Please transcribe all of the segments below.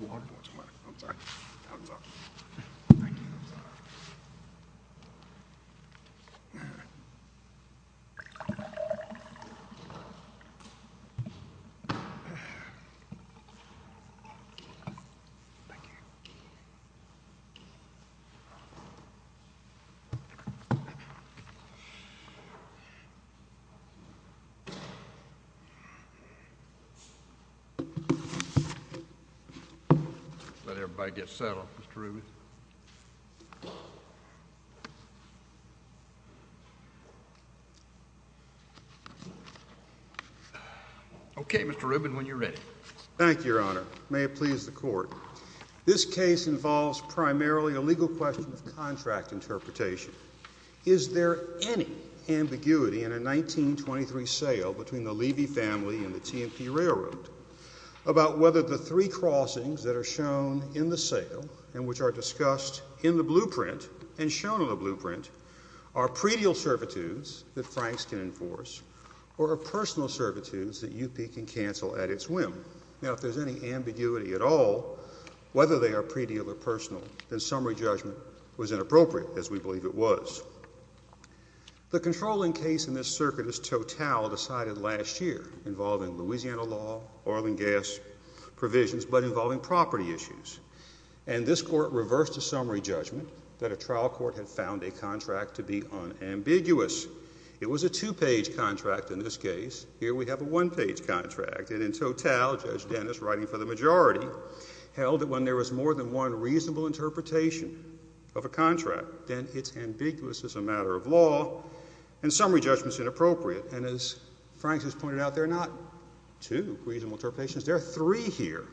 Water? I'm sorry. Thumbs up. Thank you. Thumbs up. Thank you. Let everybody get settled, Mr. Rubin. Okay, Mr. Rubin, when you're ready. Thank you, Your Honor. May it please the Court. This case involves primarily a legal question of contract interpretation. Is there any ambiguity in a 1923 sale between the Levy family and the T&P Railroad about whether the three crossings that are shown in the sale and which are discussed in the blueprint and shown in the blueprint are pre-deal servitudes that Franks can enforce or are personal servitudes that UP can cancel at its whim? Now, if there's any ambiguity at all, whether they are pre-deal or personal, then summary judgment was inappropriate, as we believe it was. The controlling case in this circuit is Total, decided last year, involving Louisiana law, oil and gas provisions, but involving property issues. And this Court reversed the summary judgment that a trial court had found a contract to be unambiguous. It was a two-page contract in this case. Here we have a one-page contract. And in Total, Judge Dennis, writing for the majority, held that when there was more than one reasonable interpretation of a contract, then it's ambiguous as a matter of law, and summary judgment's inappropriate. And as Franks has pointed out, there are not two reasonable interpretations. There are three here.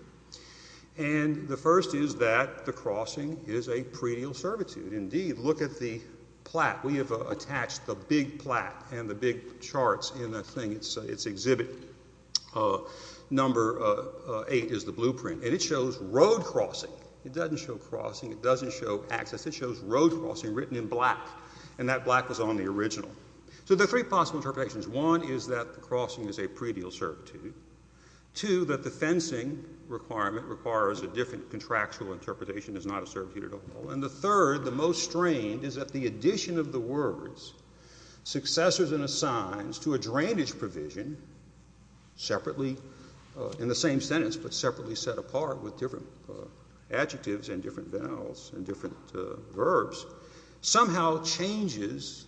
And the first is that the crossing is a pre-deal servitude. Indeed, look at the plat. We have attached the big plat and the big charts in the thing, its exhibit. Number 8 is the blueprint. And it shows road crossing. It doesn't show crossing. It doesn't show access. It shows road crossing written in black, and that black was on the original. So there are three possible interpretations. One is that the crossing is a pre-deal servitude. Two, that the fencing requirement requires a different contractual interpretation, is not a servitude at all. And the third, the most strained, is that the addition of the words, successors and assigns, to a drainage provision separately, in the same sentence, but separately set apart with different adjectives and different vowels and different verbs, somehow changes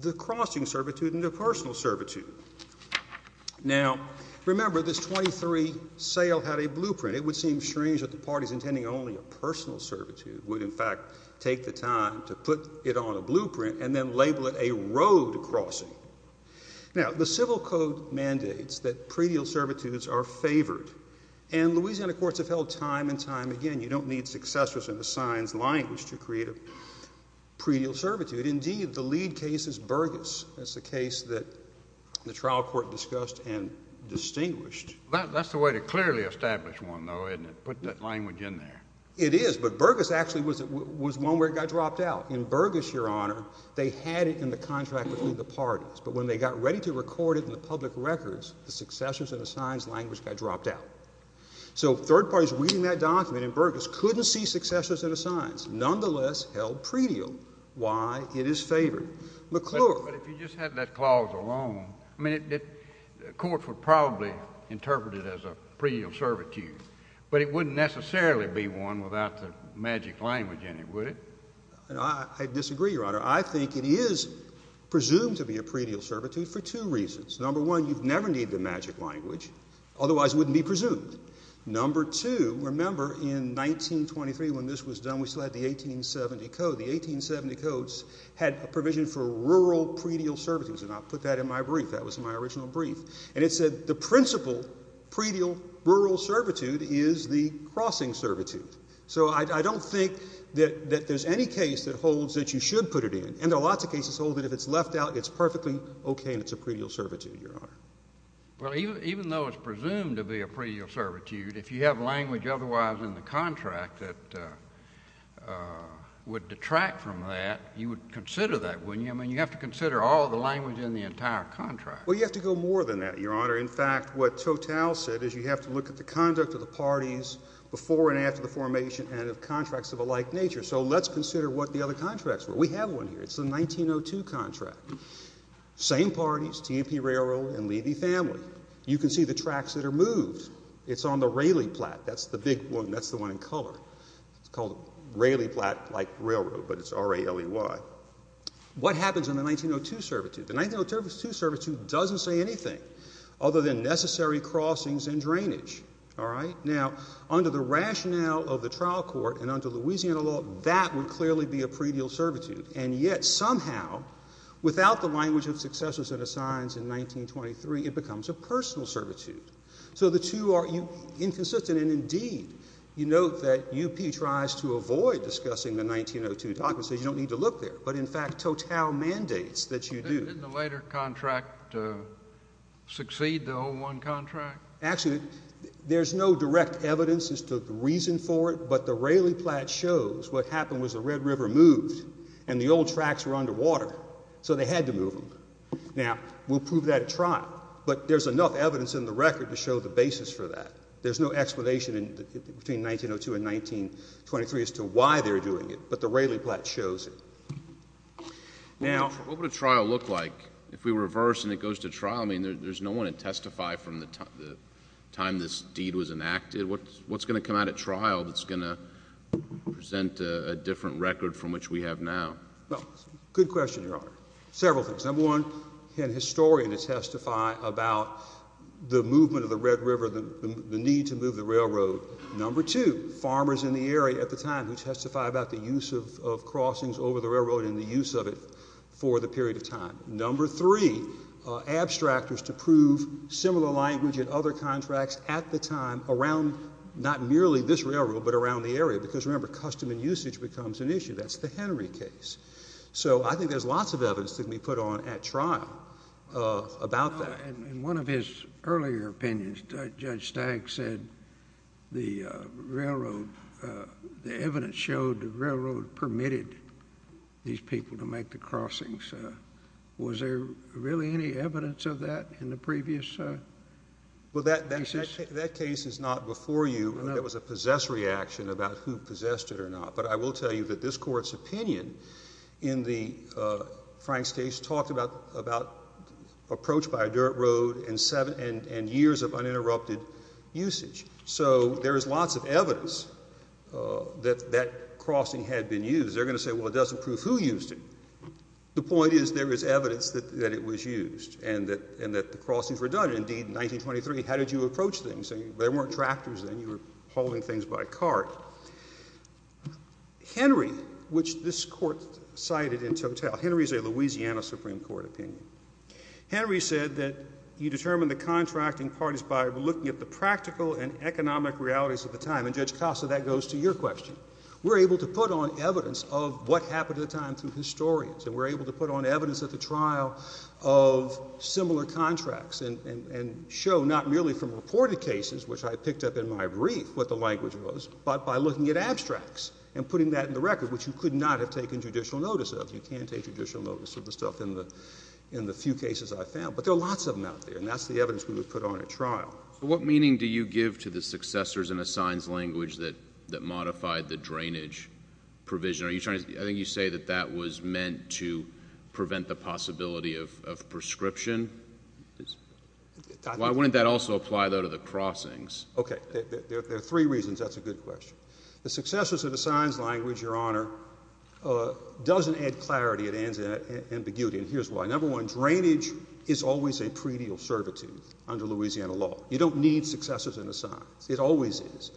the crossing servitude into personal servitude. Now, remember, this 23 sale had a blueprint. It would seem strange that the parties intending only a personal servitude would, in fact, take the time to put it on a blueprint and then label it a road crossing. Now, the Civil Code mandates that pre-deal servitudes are favored. And Louisiana courts have held time and time again, you don't need successors and assigns language to create a pre-deal servitude. Indeed, the lead case is Burgess. That's the case that the trial court discussed and distinguished. That's the way to clearly establish one, though, isn't it, put that language in there. It is, but Burgess actually was one where it got dropped out. In Burgess, Your Honor, they had it in the contract between the parties, but when they got ready to record it in the public records, the successors and assigns language got dropped out. So third parties reading that document in Burgess couldn't see successors and assigns, nonetheless held pre-deal why it is favored. McClure. But if you just had that clause alone, I mean, courts would probably interpret it as a pre-deal servitude, but it wouldn't necessarily be one without the magic language in it, would it? I disagree, Your Honor. I think it is presumed to be a pre-deal servitude for two reasons. Number one, you'd never need the magic language, otherwise it wouldn't be presumed. Number two, remember in 1923 when this was done, we still had the 1870 Code. The 1870 Codes had a provision for rural pre-deal servitudes, and I'll put that in my brief. That was my original brief. And it said the principal pre-deal rural servitude is the crossing servitude. So I don't think that there's any case that holds that you should put it in. And there are lots of cases that hold that if it's left out, it's perfectly okay and it's a pre-deal servitude, Your Honor. Well, even though it's presumed to be a pre-deal servitude, if you have language otherwise in the contract that would detract from that, you would consider that, wouldn't you? I mean, you have to consider all the language in the entire contract. Well, you have to go more than that, Your Honor. In fact, what Total said is you have to look at the conduct of the parties before and after the formation and of contracts of a like nature. So let's consider what the other contracts were. We have one here. It's the 1902 contract. Same parties, T&P Railroad and Levy Family. You can see the tracks that are moved. It's on the Raleigh Platte. That's the big one. That's the one in color. It's called Raleigh Platte-like Railroad, but it's R-A-L-E-Y. What happens in the 1902 servitude? The 1902 servitude doesn't say anything other than necessary crossings and drainage. All right? Now, under the rationale of the trial court and under Louisiana law, that would clearly be a pre-deal servitude, and yet somehow without the language of successors and assigns in 1923, it becomes a personal servitude. So the two are inconsistent, and indeed you note that UP tries to avoid discussing the 1902 documents. They say you don't need to look there. But, in fact, total mandates that you do. Didn't the later contract succeed, the old one contract? Actually, there's no direct evidence as to the reason for it, but the Raleigh Platte shows what happened was the Red River moved and the old tracks were underwater, so they had to move them. Now, we'll prove that at trial, but there's enough evidence in the record to show the basis for that. There's no explanation between 1902 and 1923 as to why they're doing it, but the Raleigh Platte shows it. What would a trial look like if we reverse and it goes to trial? I mean, there's no one to testify from the time this deed was enacted. What's going to come out at trial that's going to present a different record from which we have now? Well, good question, Your Honor. Several things. Number one, you had a historian to testify about the movement of the Red River, the need to move the railroad. Number two, farmers in the area at the time who testified about the use of crossings over the railroad and the use of it for the period of time. Number three, abstractors to prove similar language in other contracts at the time around not merely this railroad but around the area, because, remember, custom and usage becomes an issue. That's the Henry case. So I think there's lots of evidence that can be put on at trial about that. In one of his earlier opinions, Judge Stagg said the railroad, the evidence showed the railroad permitted these people to make the crossings. Was there really any evidence of that in the previous cases? Well, that case is not before you. There was a possessory action about who possessed it or not. But I will tell you that this Court's opinion in Frank's case talked about approach by a dirt road and years of uninterrupted usage. So there is lots of evidence that that crossing had been used. They're going to say, well, it doesn't prove who used it. The point is there is evidence that it was used and that the crossings were done. Indeed, in 1923, how did you approach things? There weren't tractors then. You were hauling things by cart. Henry, which this Court cited in total, Henry is a Louisiana Supreme Court opinion, Henry said that you determine the contracting parties by looking at the practical and economic realities of the time. And Judge Costa, that goes to your question. We're able to put on evidence of what happened at the time through historians and we're able to put on evidence at the trial of similar contracts and show not merely from reported cases, which I picked up in my brief what the language was, but by looking at abstracts and putting that in the record, which you could not have taken judicial notice of. You can't take judicial notice of the stuff in the few cases I found. But there are lots of them out there, and that's the evidence we would put on at trial. What meaning do you give to the successors and assigns language that modified the drainage provision? I think you say that that was meant to prevent the possibility of prescription. Why wouldn't that also apply, though, to the crossings? Okay, there are three reasons. That's a good question. The successors and assigns language, Your Honor, doesn't add clarity. It adds ambiguity, and here's why. Number one, drainage is always a pretty observative under Louisiana law. You don't need successors and assigns. It always is.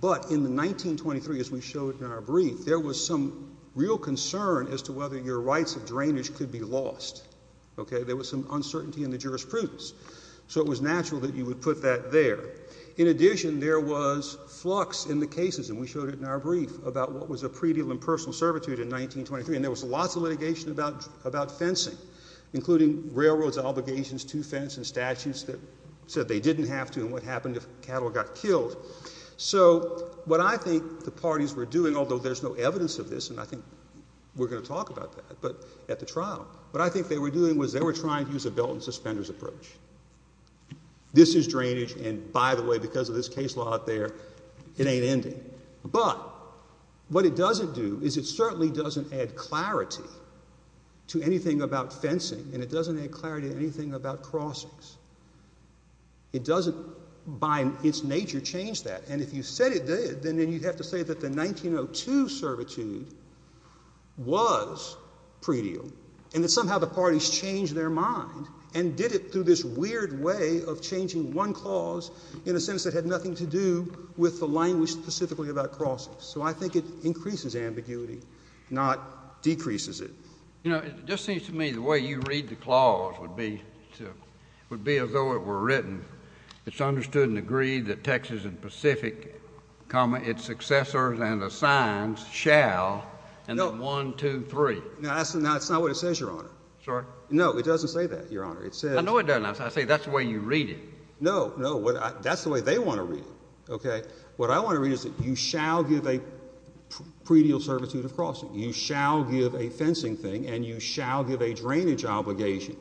But in 1923, as we showed in our brief, there was some real concern as to whether your rights of drainage could be lost. There was some uncertainty in the jurisprudence. So it was natural that you would put that there. In addition, there was flux in the cases, and we showed it in our brief, about what was a pre-deal in personal servitude in 1923, and there was lots of litigation about fencing, including railroads' obligations to fence and statutes that said they didn't have to and what happened if cattle got killed. So what I think the parties were doing, although there's no evidence of this, and I think we're going to talk about that at the trial, what I think they were doing was they were trying to use a belt-and-suspenders approach. This is drainage, and by the way, because of this case law out there, it ain't ending. But what it doesn't do is it certainly doesn't add clarity to anything about fencing, and it doesn't add clarity to anything about crossings. It doesn't by its nature change that. And if you said it did, then you'd have to say that the 1902 servitude was pre-deal, and that somehow the parties changed their mind and did it through this weird way of changing one clause in a sense that had nothing to do with the language specifically about crossings. So I think it increases ambiguity, not decreases it. You know, it just seems to me the way you read the clause would be as though it were written, it's understood and agreed that Texas and Pacific, comma, its successors and assigns shall, and then one, two, three. Now that's not what it says, Your Honor. Sorry? No, it doesn't say that, Your Honor. I know it doesn't. I say that's the way you read it. No, no, that's the way they want to read it. What I want to read is that you shall give a pre-deal servitude of crossing. You shall give a fencing thing, and you shall give a drainage obligation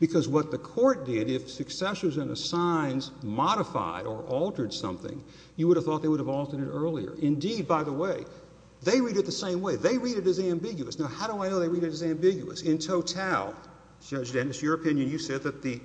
because what the court did, if successors and assigns modified or altered something, you would have thought they would have altered it earlier. Indeed, by the way, they read it the same way. They read it as ambiguous. Now, how do I know they read it as ambiguous? In total, Judge Dennis, your opinion, you said that the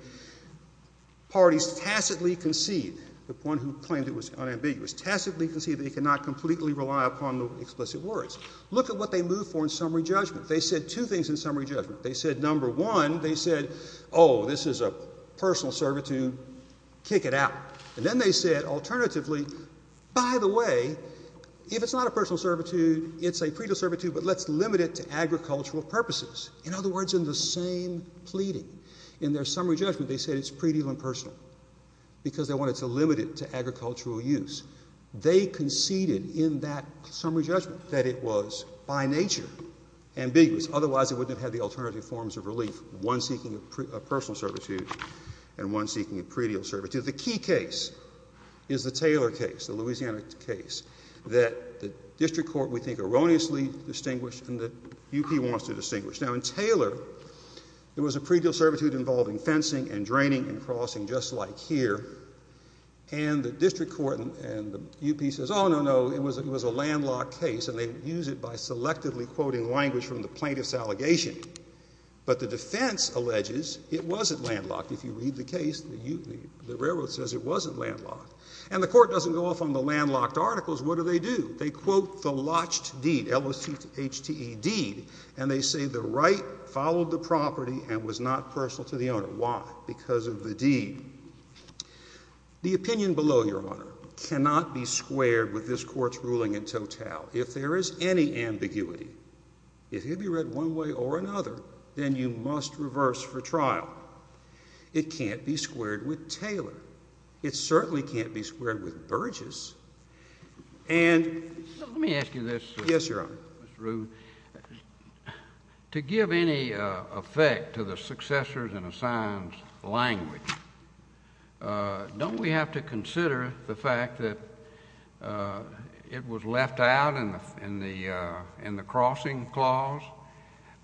parties tacitly concede, the one who claimed it was unambiguous, tacitly concede they cannot completely rely upon the explicit words. Look at what they moved for in summary judgment. They said two things in summary judgment. They said, number one, they said, oh, this is a personal servitude, kick it out. And then they said, alternatively, by the way, if it's not a personal servitude, it's a pre-deal servitude, but let's limit it to agricultural purposes. In other words, in the same pleading, in their summary judgment, they said it's pre-deal and personal because they wanted to limit it to agricultural use. They conceded in that summary judgment that it was by nature ambiguous. Otherwise, it wouldn't have had the alternative forms of relief, one seeking a personal servitude and one seeking a pre-deal servitude. The key case is the Taylor case, the Louisiana case, that the district court would think erroneously distinguished and the UP wants to distinguish. Now, in Taylor, there was a pre-deal servitude involving fencing and draining and crossing, just like here. And the district court and the UP says, oh, no, no, it was a landlocked case, and they use it by selectively quoting language from the plaintiff's allegation. But the defense alleges it wasn't landlocked. If you read the case, the railroad says it wasn't landlocked. And the court doesn't go off on the landlocked articles. What do they do? They quote the lotched deed, L-O-T-H-T-E, deed, and they say the right followed the property and was not personal to the owner. Because of the deed. The opinion below, Your Honor, cannot be squared with this court's ruling in total. If there is any ambiguity, if it can be read one way or another, then you must reverse for trial. It can't be squared with Taylor. It certainly can't be squared with Burgess. And let me ask you this. Yes, Your Honor. Mr. Rueb. To give any effect to the successors in assigned language, don't we have to consider the fact that it was left out in the crossing clause,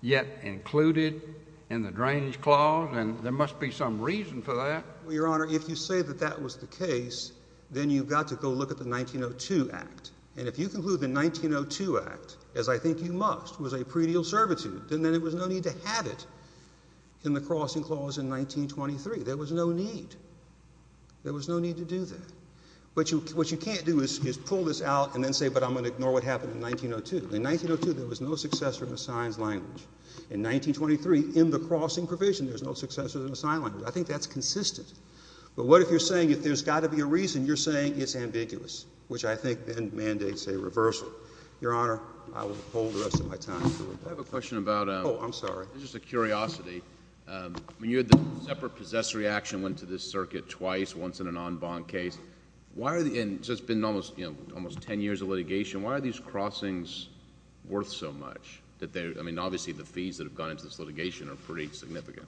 yet included in the drainage clause? And there must be some reason for that. Well, Your Honor, if you say that that was the case, then you've got to go look at the 1902 Act. And if you conclude the 1902 Act, as I think you must, was a predial servitude, then there was no need to have it in the crossing clause in 1923. There was no need. There was no need to do that. What you can't do is pull this out and then say, but I'm going to ignore what happened in 1902. In 1902, there was no successor in assigned language. In 1923, in the crossing provision, there's no successor in assigned language. I think that's consistent. But what if you're saying if there's got to be a reason, you're saying it's ambiguous, which I think then mandates a reversal. Your Honor, I will hold the rest of my time. I have a question about – Oh, I'm sorry. This is a curiosity. When you had the separate possessory action went to this circuit twice, once in an en banc case, and it's been almost ten years of litigation, why are these crossings worth so much? I mean, obviously the fees that have gone into this litigation are pretty significant.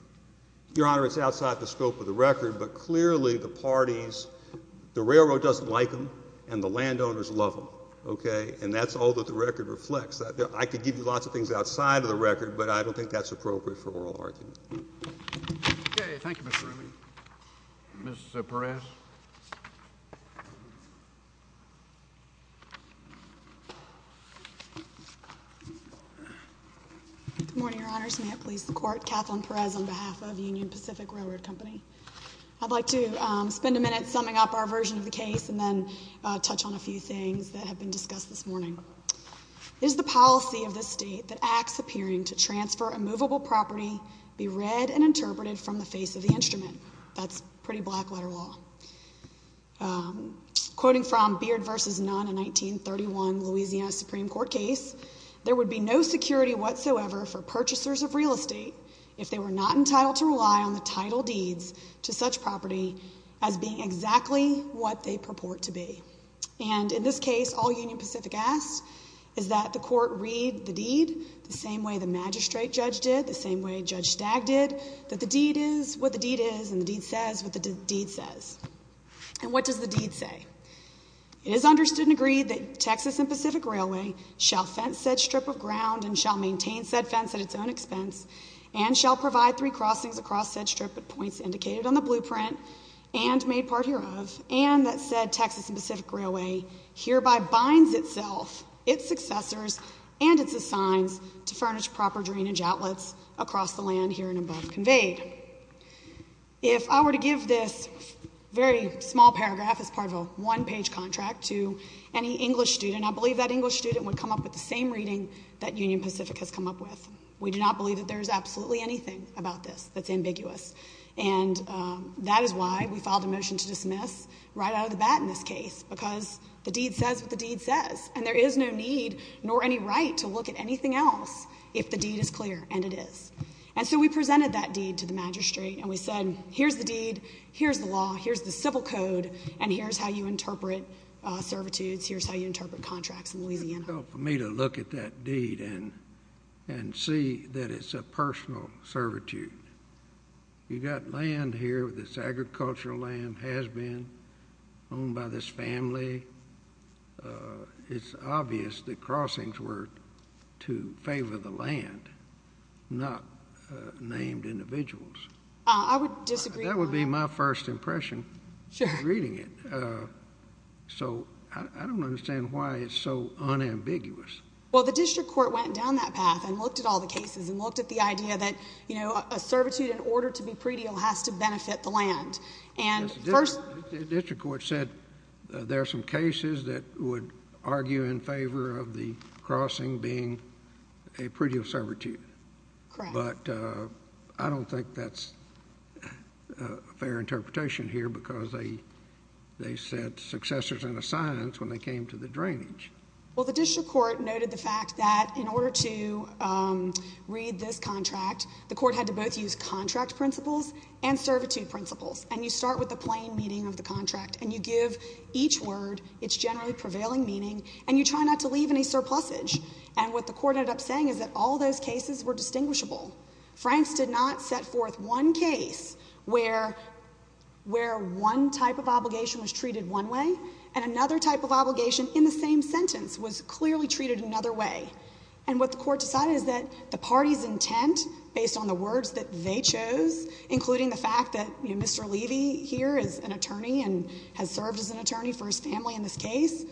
Your Honor, it's outside the scope of the record, but clearly the parties, the railroad doesn't like them, and the landowners love them. And that's all that the record reflects. I could give you lots of things outside of the record, but I don't think that's appropriate for oral argument. Okay. Thank you, Mr. Ramey. Mr. Perez. Good morning, Your Honors. May it please the Court, Kathleen Perez on behalf of Union Pacific Railroad Company. I'd like to spend a minute summing up our version of the case and then touch on a few things that have been discussed this morning. It is the policy of this state that acts appearing to transfer a movable property be read and interpreted from the face of the instrument. That's pretty black letter law. Quoting from Beard v. Nunn, a 1931 Louisiana Supreme Court case, there would be no security whatsoever for purchasers of real estate if they were not entitled to rely on the title deeds to such property as being exactly what they purport to be. And in this case, all Union Pacific asks is that the court read the deed the same way the magistrate judge did, the same way Judge Stagg did, that the deed is what the deed is and the deed says what the deed says. And what does the deed say? It is understood and agreed that Texas and Pacific Railway shall fence said strip of ground and shall maintain said fence at its own expense and shall provide three crossings across said strip at points indicated on the blueprint and made part hereof, and that said Texas and Pacific Railway hereby binds itself, its successors, and its assigns to furnish proper drainage outlets across the land here and above conveyed. If I were to give this very small paragraph as part of a one-page contract to any English student, I believe that English student would come up with the same reading that Union Pacific has come up with. We do not believe that there is absolutely anything about this that's ambiguous, and that is why we filed a motion to dismiss right out of the bat in this case because the deed says what the deed says, and there is no need nor any right to look at anything else if the deed is clear, and it is. And so we presented that deed to the magistrate, and we said here's the deed, here's the law, here's the civil code, and here's how you interpret servitudes, here's how you interpret contracts in Louisiana. It's difficult for me to look at that deed and see that it's a personal servitude. You've got land here that's agricultural land, has been owned by this family. It's obvious that crossings were to favor the land, not named individuals. I would disagree. That would be my first impression reading it. So I don't understand why it's so unambiguous. Well, the district court went down that path and looked at all the cases and looked at the idea that a servitude in order to be pre-deal has to benefit the land. The district court said there are some cases that would argue in favor of the crossing being a pre-deal servitude. Correct. But I don't think that's a fair interpretation here because they said successors and assigns when they came to the drainage. Well, the district court noted the fact that in order to read this contract, the court had to both use contract principles and servitude principles, and you start with the plain meaning of the contract, and you give each word its generally prevailing meaning, and you try not to leave any surplusage. And what the court ended up saying is that all those cases were distinguishable. Franks did not set forth one case where one type of obligation was treated one way and another type of obligation in the same sentence was clearly treated another way. And what the court decided is that the party's intent, based on the words that they chose, including the fact that, you know, Mr. Levy here is an attorney and has served as an attorney for his family in this case,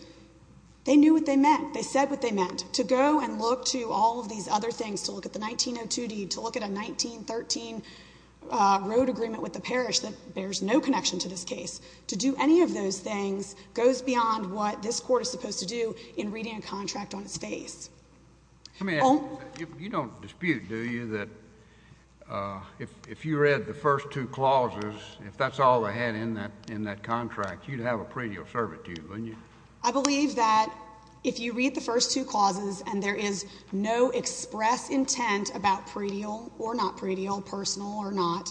they knew what they meant. They said what they meant. To go and look to all of these other things, to look at the 1902 deed, to look at a 1913 road agreement with the parish that bears no connection to this case, to do any of those things goes beyond what this court is supposed to do in reading a contract on its face. Let me ask you this. You don't dispute, do you, that if you read the first two clauses, if that's all they had in that contract, you'd have a pre-deal servitude, wouldn't you? I believe that if you read the first two clauses and there is no express intent about pre-deal or not pre-deal, personal or not,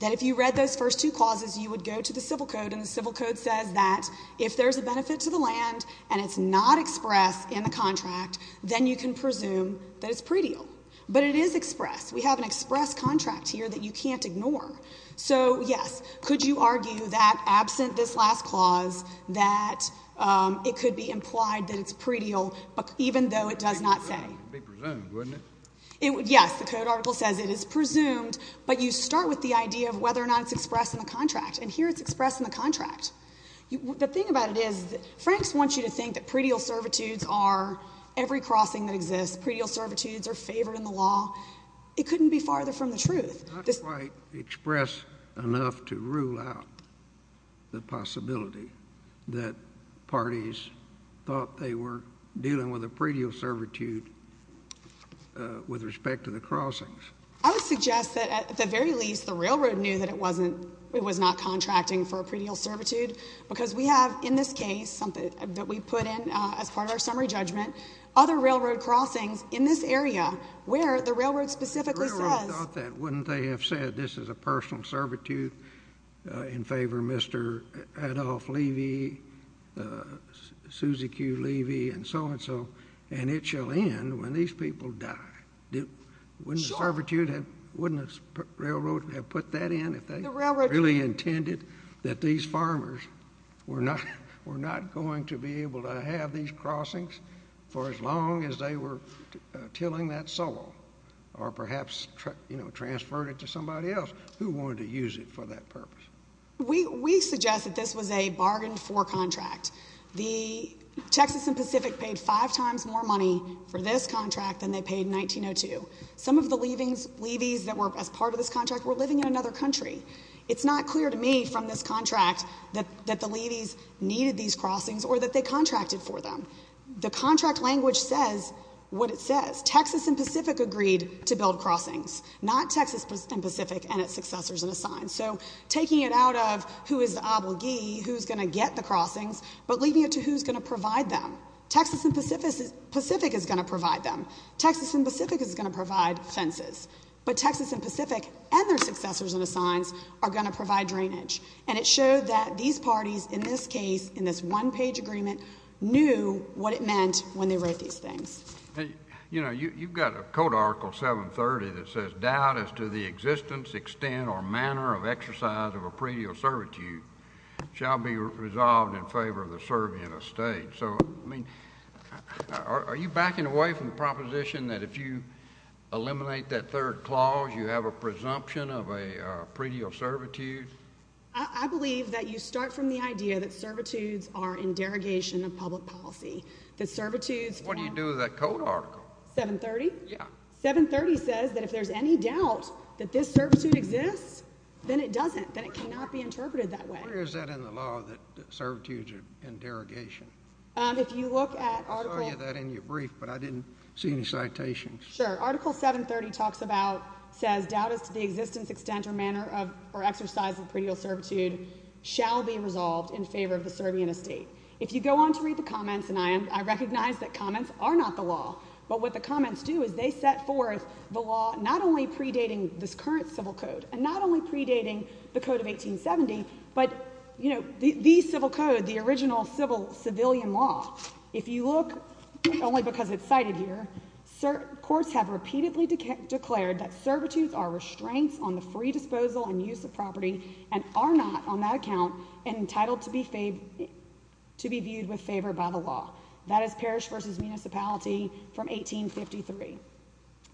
that if you read those first two clauses, you would go to the Civil Code, and the Civil Code says that if there's a benefit to the land and it's not expressed in the contract, then you can presume that it's pre-deal. But it is expressed. We have an expressed contract here that you can't ignore. So, yes, could you argue that, absent this last clause, that it could be implied that it's pre-deal even though it does not say? It would be presumed, wouldn't it? Yes. Yes, the Code article says it is presumed, but you start with the idea of whether or not it's expressed in the contract, and here it's expressed in the contract. The thing about it is Franks wants you to think that pre-deal servitudes are every crossing that exists. Pre-deal servitudes are favored in the law. It couldn't be farther from the truth. It's not quite expressed enough to rule out the possibility that parties thought they were dealing with a pre-deal servitude with respect to the crossings. I would suggest that, at the very least, the railroad knew that it was not contracting for a pre-deal servitude because we have, in this case, something that we put in as part of our summary judgment, other railroad crossings in this area where the railroad specifically says. The railroad thought that. Wouldn't they have said this is a personal servitude in favor of Mr. Adolph Levy, Susie Q. Levy, and so on and so forth, and it shall end when these people die? Wouldn't the railroad have put that in if they really intended that these farmers were not going to be able to have these crossings for as long as they were tilling that soil or perhaps transferred it to somebody else who wanted to use it for that purpose? We suggest that this was a bargained-for contract. The Texas and Pacific paid five times more money for this contract than they paid in 1902. Some of the Levy's that were as part of this contract were living in another country. It's not clear to me from this contract that the Levy's needed these crossings or that they contracted for them. The contract language says what it says. Texas and Pacific agreed to build crossings, not Texas and Pacific and its successors and assigns. So taking it out of who is the obligee, who's going to get the crossings, but leaving it to who's going to provide them. Texas and Pacific is going to provide them. Texas and Pacific is going to provide fences. But Texas and Pacific and their successors and assigns are going to provide drainage. And it showed that these parties, in this case, in this one-page agreement, knew what it meant when they wrote these things. You know, you've got a Code Article 730 that says, doubt as to the existence, extent, or manner of exercise of a predeal servitude shall be resolved in favor of the serving of a state. So, I mean, are you backing away from the proposition that if you eliminate that third clause, you have a presumption of a predeal servitude? I believe that you start from the idea that servitudes are in derogation of public policy, that servitudes. What do you do with that Code Article? 730? Yeah. 730 says that if there's any doubt that this servitude exists, then it doesn't, that it cannot be interpreted that way. Where is that in the law, that servitudes are in derogation? If you look at Article... I saw that in your brief, but I didn't see any citations. Sure. Article 730 talks about, says, doubt as to the existence, extent, or manner of, or exercise of predeal servitude shall be resolved in favor of the serving of a state. If you go on to read the comments, and I am, I recognize that comments are not the law, but what the comments do is they set forth the law not only predating this current civil code, and not only predating the code of 1870, but, you know, the civil code, the original civil, civilian law. If you look, only because it's cited here, courts have repeatedly declared that servitudes are restraints on the free disposal and use of property, and are not, on that account, entitled to be viewed with favor by the law. That is Parrish v. Municipality from 1853.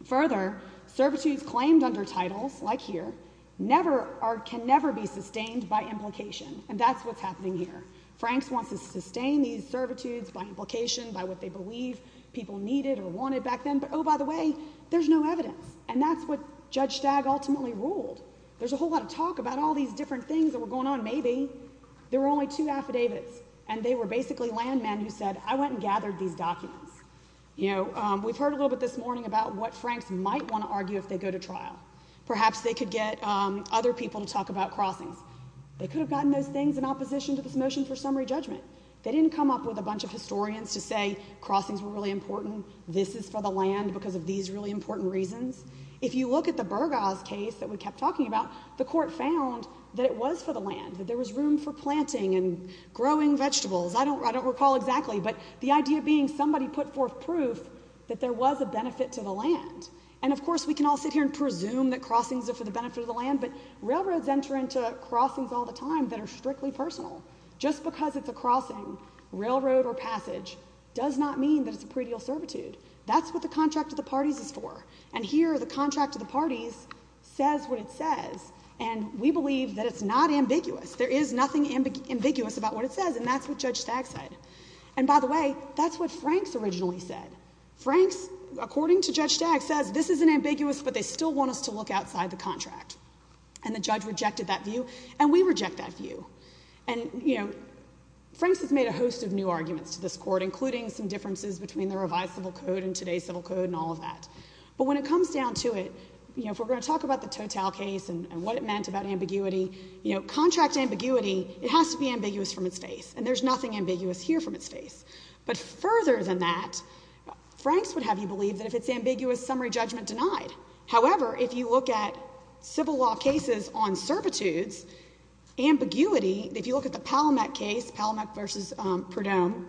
Further, servitudes claimed under titles, like here, can never be sustained by implication, and that's what's happening here. Franks wants to sustain these servitudes by implication, by what they believe people needed or wanted back then, but, oh, by the way, there's no evidence, and that's what Judge Stagg ultimately ruled. There's a whole lot of talk about all these different things that were going on. There were only two affidavits, and they were basically landmen who said, I went and gathered these documents. You know, we've heard a little bit this morning about what Franks might want to argue if they go to trial. Perhaps they could get other people to talk about crossings. They could have gotten those things in opposition to this motion for summary judgment. They didn't come up with a bunch of historians to say crossings were really important, this is for the land because of these really important reasons. If you look at the Burgos case that we kept talking about, the court found that it was for the land, that there was room for planting and growing vegetables. I don't recall exactly, but the idea being somebody put forth proof that there was a benefit to the land. And, of course, we can all sit here and presume that crossings are for the benefit of the land, but railroads enter into crossings all the time that are strictly personal. Just because it's a crossing, railroad or passage, does not mean that it's a pre-deal servitude. That's what the contract of the parties is for. And here, the contract of the parties says what it says, and we believe that it's not ambiguous. There is nothing ambiguous about what it says, and that's what Judge Stagg said. And, by the way, that's what Franks originally said. Franks, according to Judge Stagg, says this isn't ambiguous, but they still want us to look outside the contract. And the judge rejected that view, and we reject that view. And, you know, Franks has made a host of new arguments to this court, including some differences between the revised civil code and today's civil code and all of that. But when it comes down to it, you know, if we're going to talk about the Total case and what it meant about ambiguity, you know, contract ambiguity, it has to be ambiguous from its face, and there's nothing ambiguous here from its face. But further than that, Franks would have you believe that if it's ambiguous, summary judgment denied. However, if you look at civil law cases on servitudes, ambiguity, if you look at the Palamec case, Palamec v. Perdome,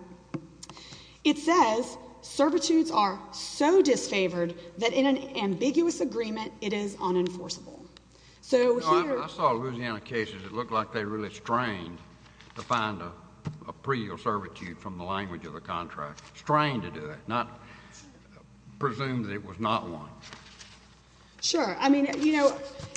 it says servitudes are so disfavored that in an ambiguous agreement, it is unenforceable. So here— No, I saw Louisiana cases that looked like they were really strained to find a pre or servitude from the language of the contract. Not presumed that it was not one. Sure. I mean, you know,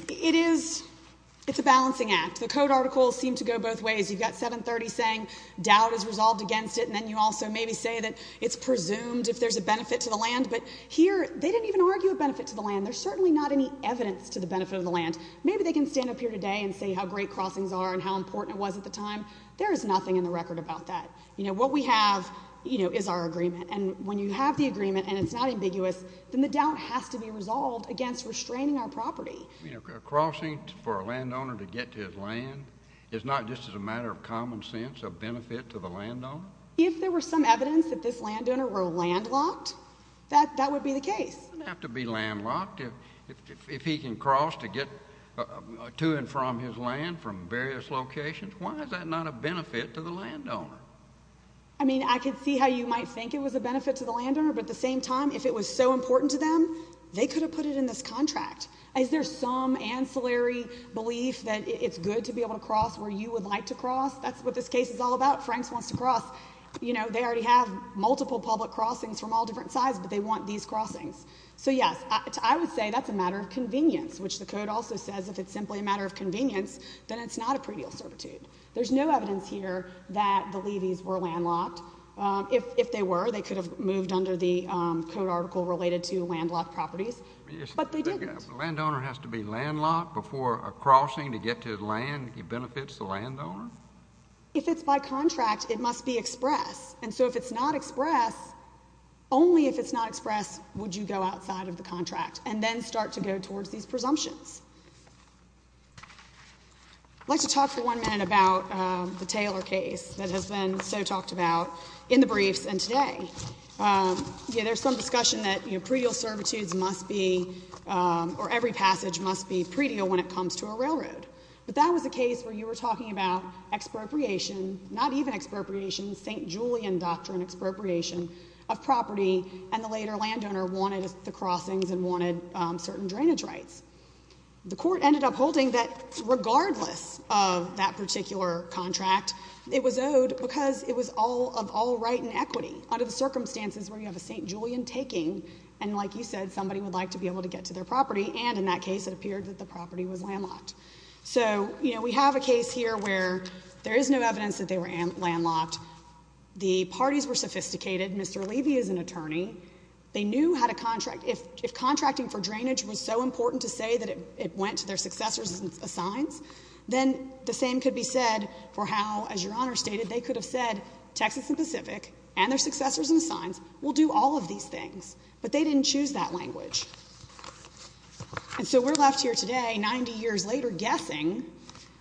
it is—it's a balancing act. The code articles seem to go both ways. You've got 730 saying doubt is resolved against it, and then you also maybe say that it's presumed if there's a benefit to the land. But here, they didn't even argue a benefit to the land. There's certainly not any evidence to the benefit of the land. Maybe they can stand up here today and say how great crossings are and how important it was at the time. There is nothing in the record about that. You know, what we have, you know, is our agreement. And when you have the agreement and it's not ambiguous, then the doubt has to be resolved against restraining our property. You know, a crossing for a landowner to get to his land is not just as a matter of common sense a benefit to the landowner. If there were some evidence that this landowner were landlocked, that would be the case. He doesn't have to be landlocked. If he can cross to get to and from his land from various locations, why is that not a benefit to the landowner? I mean, I could see how you might think it was a benefit to the landowner, but at the same time, if it was so important to them, they could have put it in this contract. Is there some ancillary belief that it's good to be able to cross where you would like to cross? That's what this case is all about. Franks wants to cross. You know, they already have multiple public crossings from all different sides, but they want these crossings. So, yes, I would say that's a matter of convenience, which the code also says if it's simply a matter of convenience, then it's not a previous servitude. There's no evidence here that the Levees were landlocked. If they were, they could have moved under the code article related to landlocked properties, but they didn't. The landowner has to be landlocked before a crossing to get to his land. He benefits the landowner? If it's by contract, it must be express. And so if it's not express, only if it's not express would you go outside of the contract and then start to go towards these presumptions. I'd like to talk for one minute about the Taylor case that has been so talked about in the briefs and today. There's some discussion that, you know, pre-deal servitudes must be, or every passage must be pre-deal when it comes to a railroad. But that was a case where you were talking about expropriation, not even expropriation, St. Julian doctrine expropriation of property, and the later landowner wanted the crossings and wanted certain drainage rights. The court ended up holding that regardless of that particular contract, it was owed because it was of all right and equity, under the circumstances where you have a St. Julian taking, and like you said, somebody would like to be able to get to their property, and in that case it appeared that the property was landlocked. So, you know, we have a case here where there is no evidence that they were landlocked. The parties were sophisticated. Mr. Levy is an attorney. They knew how to contract. If contracting for drainage was so important to say that it went to their successors and assigns, then the same could be said for how, as Your Honor stated, they could have said Texas and Pacific and their successors and assigns will do all of these things. But they didn't choose that language. And so we're left here today, 90 years later, guessing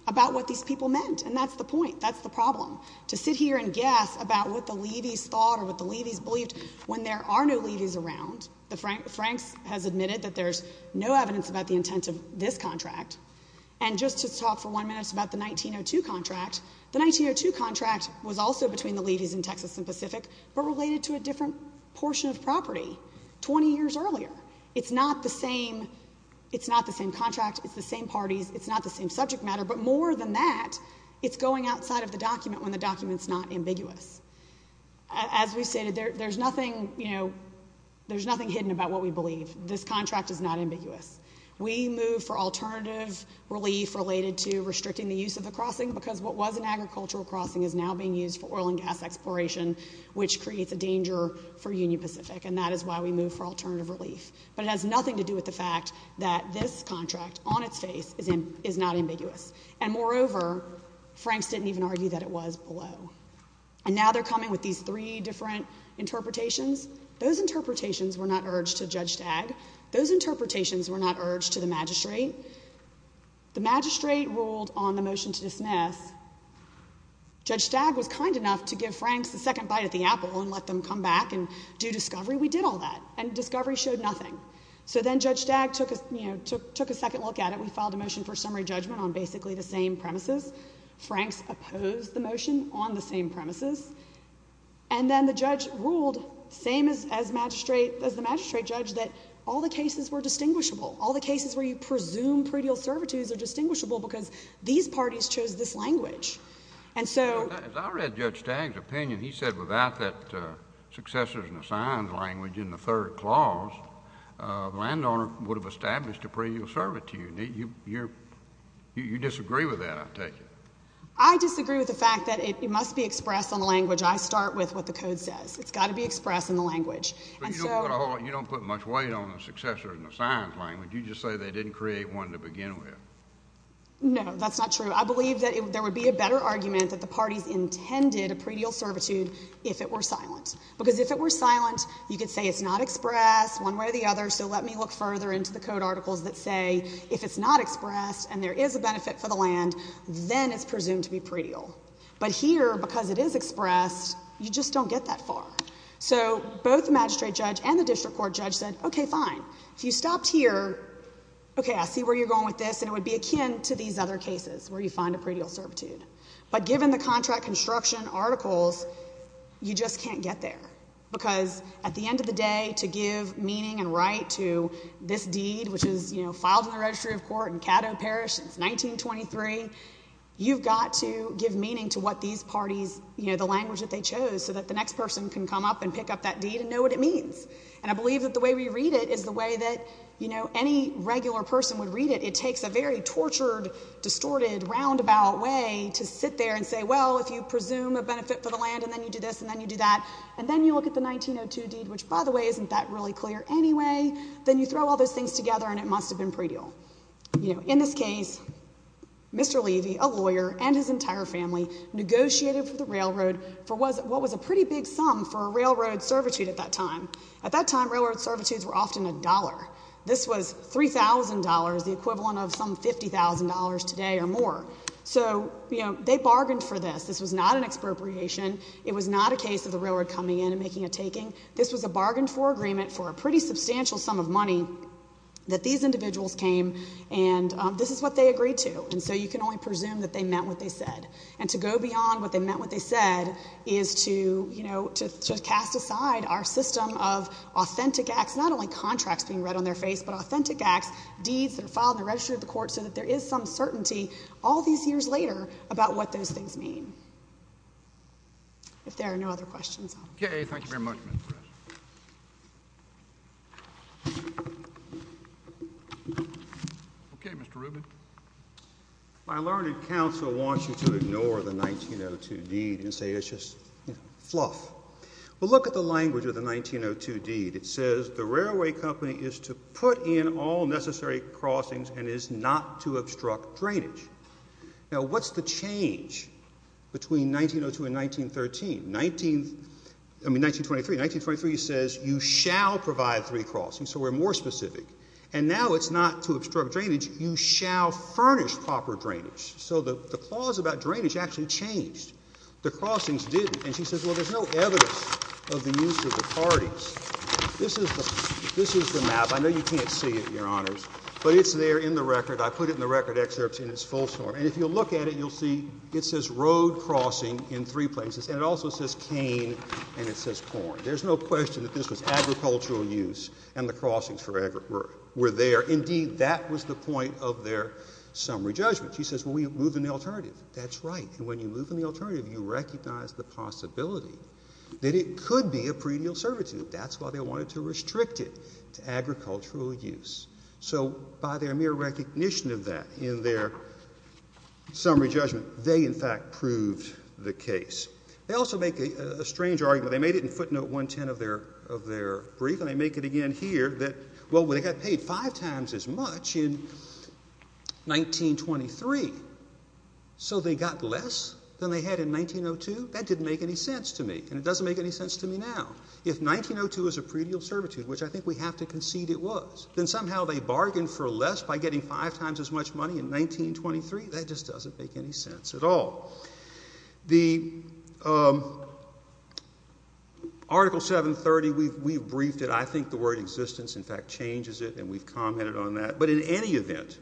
about what these people meant. And that's the point. That's the problem, to sit here and guess about what the Levy's thought or what the Levy's believed when there are no Levy's around. Frank has admitted that there's no evidence about the intent of this contract. And just to talk for one minute about the 1902 contract, the 1902 contract was also between the Levy's and Texas and Pacific, but related to a different portion of property 20 years earlier. It's not the same contract. It's the same parties. It's not the same subject matter. But more than that, it's going outside of the document when the document's not ambiguous. As we've stated, there's nothing, you know, there's nothing hidden about what we believe. This contract is not ambiguous. We move for alternative relief related to restricting the use of the crossing because what was an agricultural crossing is now being used for oil and gas exploration, which creates a danger for Union Pacific, and that is why we move for alternative relief. But it has nothing to do with the fact that this contract, on its face, is not ambiguous. And moreover, Franks didn't even argue that it was below. And now they're coming with these three different interpretations. Those interpretations were not urged to judge TAG. Those interpretations were not urged to the magistrate. The magistrate ruled on the motion to dismiss. Judge TAG was kind enough to give Franks a second bite at the apple and let them come back and do discovery. We did all that, and discovery showed nothing. So then Judge TAG took a second look at it. We filed a motion for summary judgment on basically the same premises. Franks opposed the motion on the same premises. And then the judge ruled, same as the magistrate judge, that all the cases were distinguishable. All the cases where you presume pareidial servitudes are distinguishable because these parties chose this language. As I read Judge TAG's opinion, he said without that successors and assigns language in the third clause, the landowner would have established a pareidial servitude. You disagree with that, I take it. I disagree with the fact that it must be expressed on the language. I start with what the code says. It's got to be expressed in the language. You don't put much weight on the successors and assigns language. You just say they didn't create one to begin with. No, that's not true. I believe that there would be a better argument that the parties intended a pareidial servitude if it were silent. Because if it were silent, you could say it's not expressed one way or the other. So let me look further into the code articles that say if it's not expressed and there is a benefit for the land, then it's presumed to be pareidial. But here, because it is expressed, you just don't get that far. So both the magistrate judge and the district court judge said, okay, fine. If you stopped here, okay, I see where you're going with this, and it would be akin to these other cases where you find a pareidial servitude. But given the contract construction articles, you just can't get there. Because at the end of the day, to give meaning and right to this deed, which is filed in the registry of court in Caddo Parish since 1923, you've got to give meaning to what these parties, the language that they chose, so that the next person can come up and pick up that deed and know what it means. And I believe that the way we read it is the way that any regular person would read it. It takes a very tortured, distorted, roundabout way to sit there and say, well, if you presume a benefit for the land and then you do this and then you do that, and then you look at the 1902 deed, which, by the way, isn't that really clear anyway, then you throw all those things together and it must have been pareidial. In this case, Mr. Levy, a lawyer, and his entire family negotiated for the railroad for what was a pretty big sum for a railroad servitude at that time. At that time, railroad servitudes were often a dollar. This was $3,000, the equivalent of some $50,000 today or more. So they bargained for this. This was not an expropriation. It was not a case of the railroad coming in and making a taking. This was a bargain for agreement for a pretty substantial sum of money that these individuals came and this is what they agreed to. And so you can only presume that they meant what they said. And to go beyond what they meant what they said is to, you know, to cast aside our system of authentic acts, not only contracts being read on their face, but authentic acts, deeds that are filed and registered at the court so that there is some certainty all these years later about what those things mean. If there are no other questions. Okay, thank you very much. Okay, Mr. Rubin. My learned counsel wants you to ignore the 1902 deed and say it's just fluff. Well, look at the language of the 1902 deed. It says the railway company is to put in all necessary crossings and is not to obstruct drainage. Now what's the change between 1902 and 1913? 1923 says you shall provide three crossings, so we're more specific. And now it's not to obstruct drainage. You shall furnish proper drainage. So the clause about drainage actually changed. The crossings didn't. And she says, well, there's no evidence of the use of the parties. This is the map. I know you can't see it, Your Honors, but it's there in the record. I put it in the record excerpts in its full form. And if you'll look at it, you'll see it says road crossing in three places and it also says cane and it says corn. There's no question that this was agricultural use and the crossings were there. Indeed, that was the point of their summary judgment. She says, well, we moved an alternative. That's right. And when you move an alternative, you recognize the possibility that it could be a previous servitude. That's why they wanted to restrict it to agricultural use. So by their mere recognition of that in their summary judgment, they, in fact, proved the case. They also make a strange argument. They made it in footnote 110 of their brief, and they make it again here that, well, they got paid five times as much in 1923, so they got less than they had in 1902? That didn't make any sense to me, and it doesn't make any sense to me now. If 1902 is a previous servitude, which I think we have to concede it was, then somehow they bargained for less by getting five times as much money in 1923? That just doesn't make any sense at all. The Article 730, we've briefed it. I think the word existence, in fact, changes it, and we've commented on that. But in any event,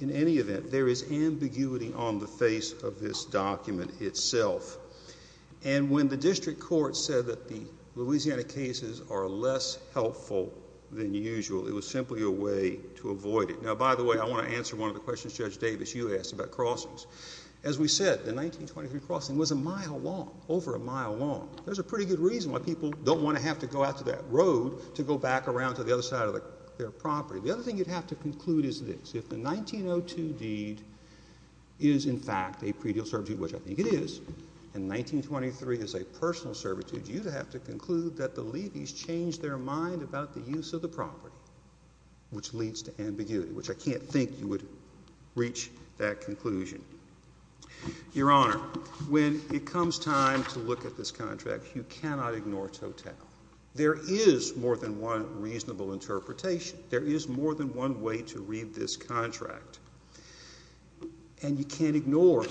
in any event, there is ambiguity on the face of this document itself. And when the district court said that the Louisiana cases are less helpful than usual, it was simply a way to avoid it. Now, by the way, I want to answer one of the questions Judge Davis, you asked about crossings. As we said, the 1923 crossing was a mile long, over a mile long. There's a pretty good reason why people don't want to have to go out to that road to go back around to the other side of their property. The other thing you'd have to conclude is this. If the 1902 deed is, in fact, a previous servitude, which I think it is, and 1923 is a personal servitude, you'd have to conclude that the Levees changed their mind about the use of the property, which leads to ambiguity, which I can't think you would reach that conclusion. Your Honor, when it comes time to look at this contract, you cannot ignore Total. There is more than one reasonable interpretation. There is more than one way to read this contract. And you can't ignore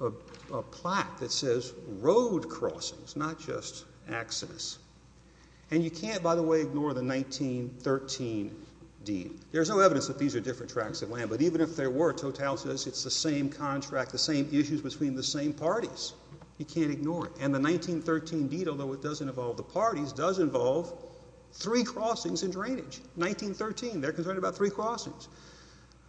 a plaque that says road crossings, not just accidents. And you can't, by the way, ignore the 1913 deed. There's no evidence that these are different tracks of land, but even if there were, Total says it's the same contract, the same issues between the same parties. You can't ignore it. And the 1913 deed, although it doesn't involve the parties, does involve three crossings and drainage. 1913, they're concerned about three crossings.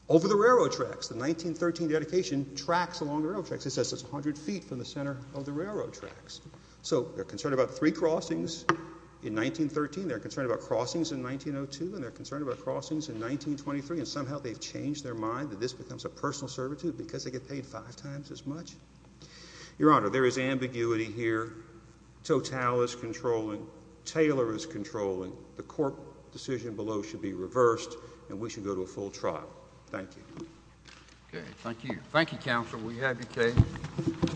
Over the railroad tracks, the 1913 dedication tracks along the railroad tracks. It says it's 100 feet from the center of the railroad tracks. So they're concerned about three crossings in 1913, they're concerned about crossings in 1902, and they're concerned about crossings in 1923, and somehow they've changed their mind that this becomes a personal servitude because they get paid five times as much. Your Honor, there is ambiguity here. Total is controlling. Taylor is controlling. The court decision below should be reversed, and we should go to a full trial. Thank you. Okay, thank you. Thank you, Counselor. We have your case.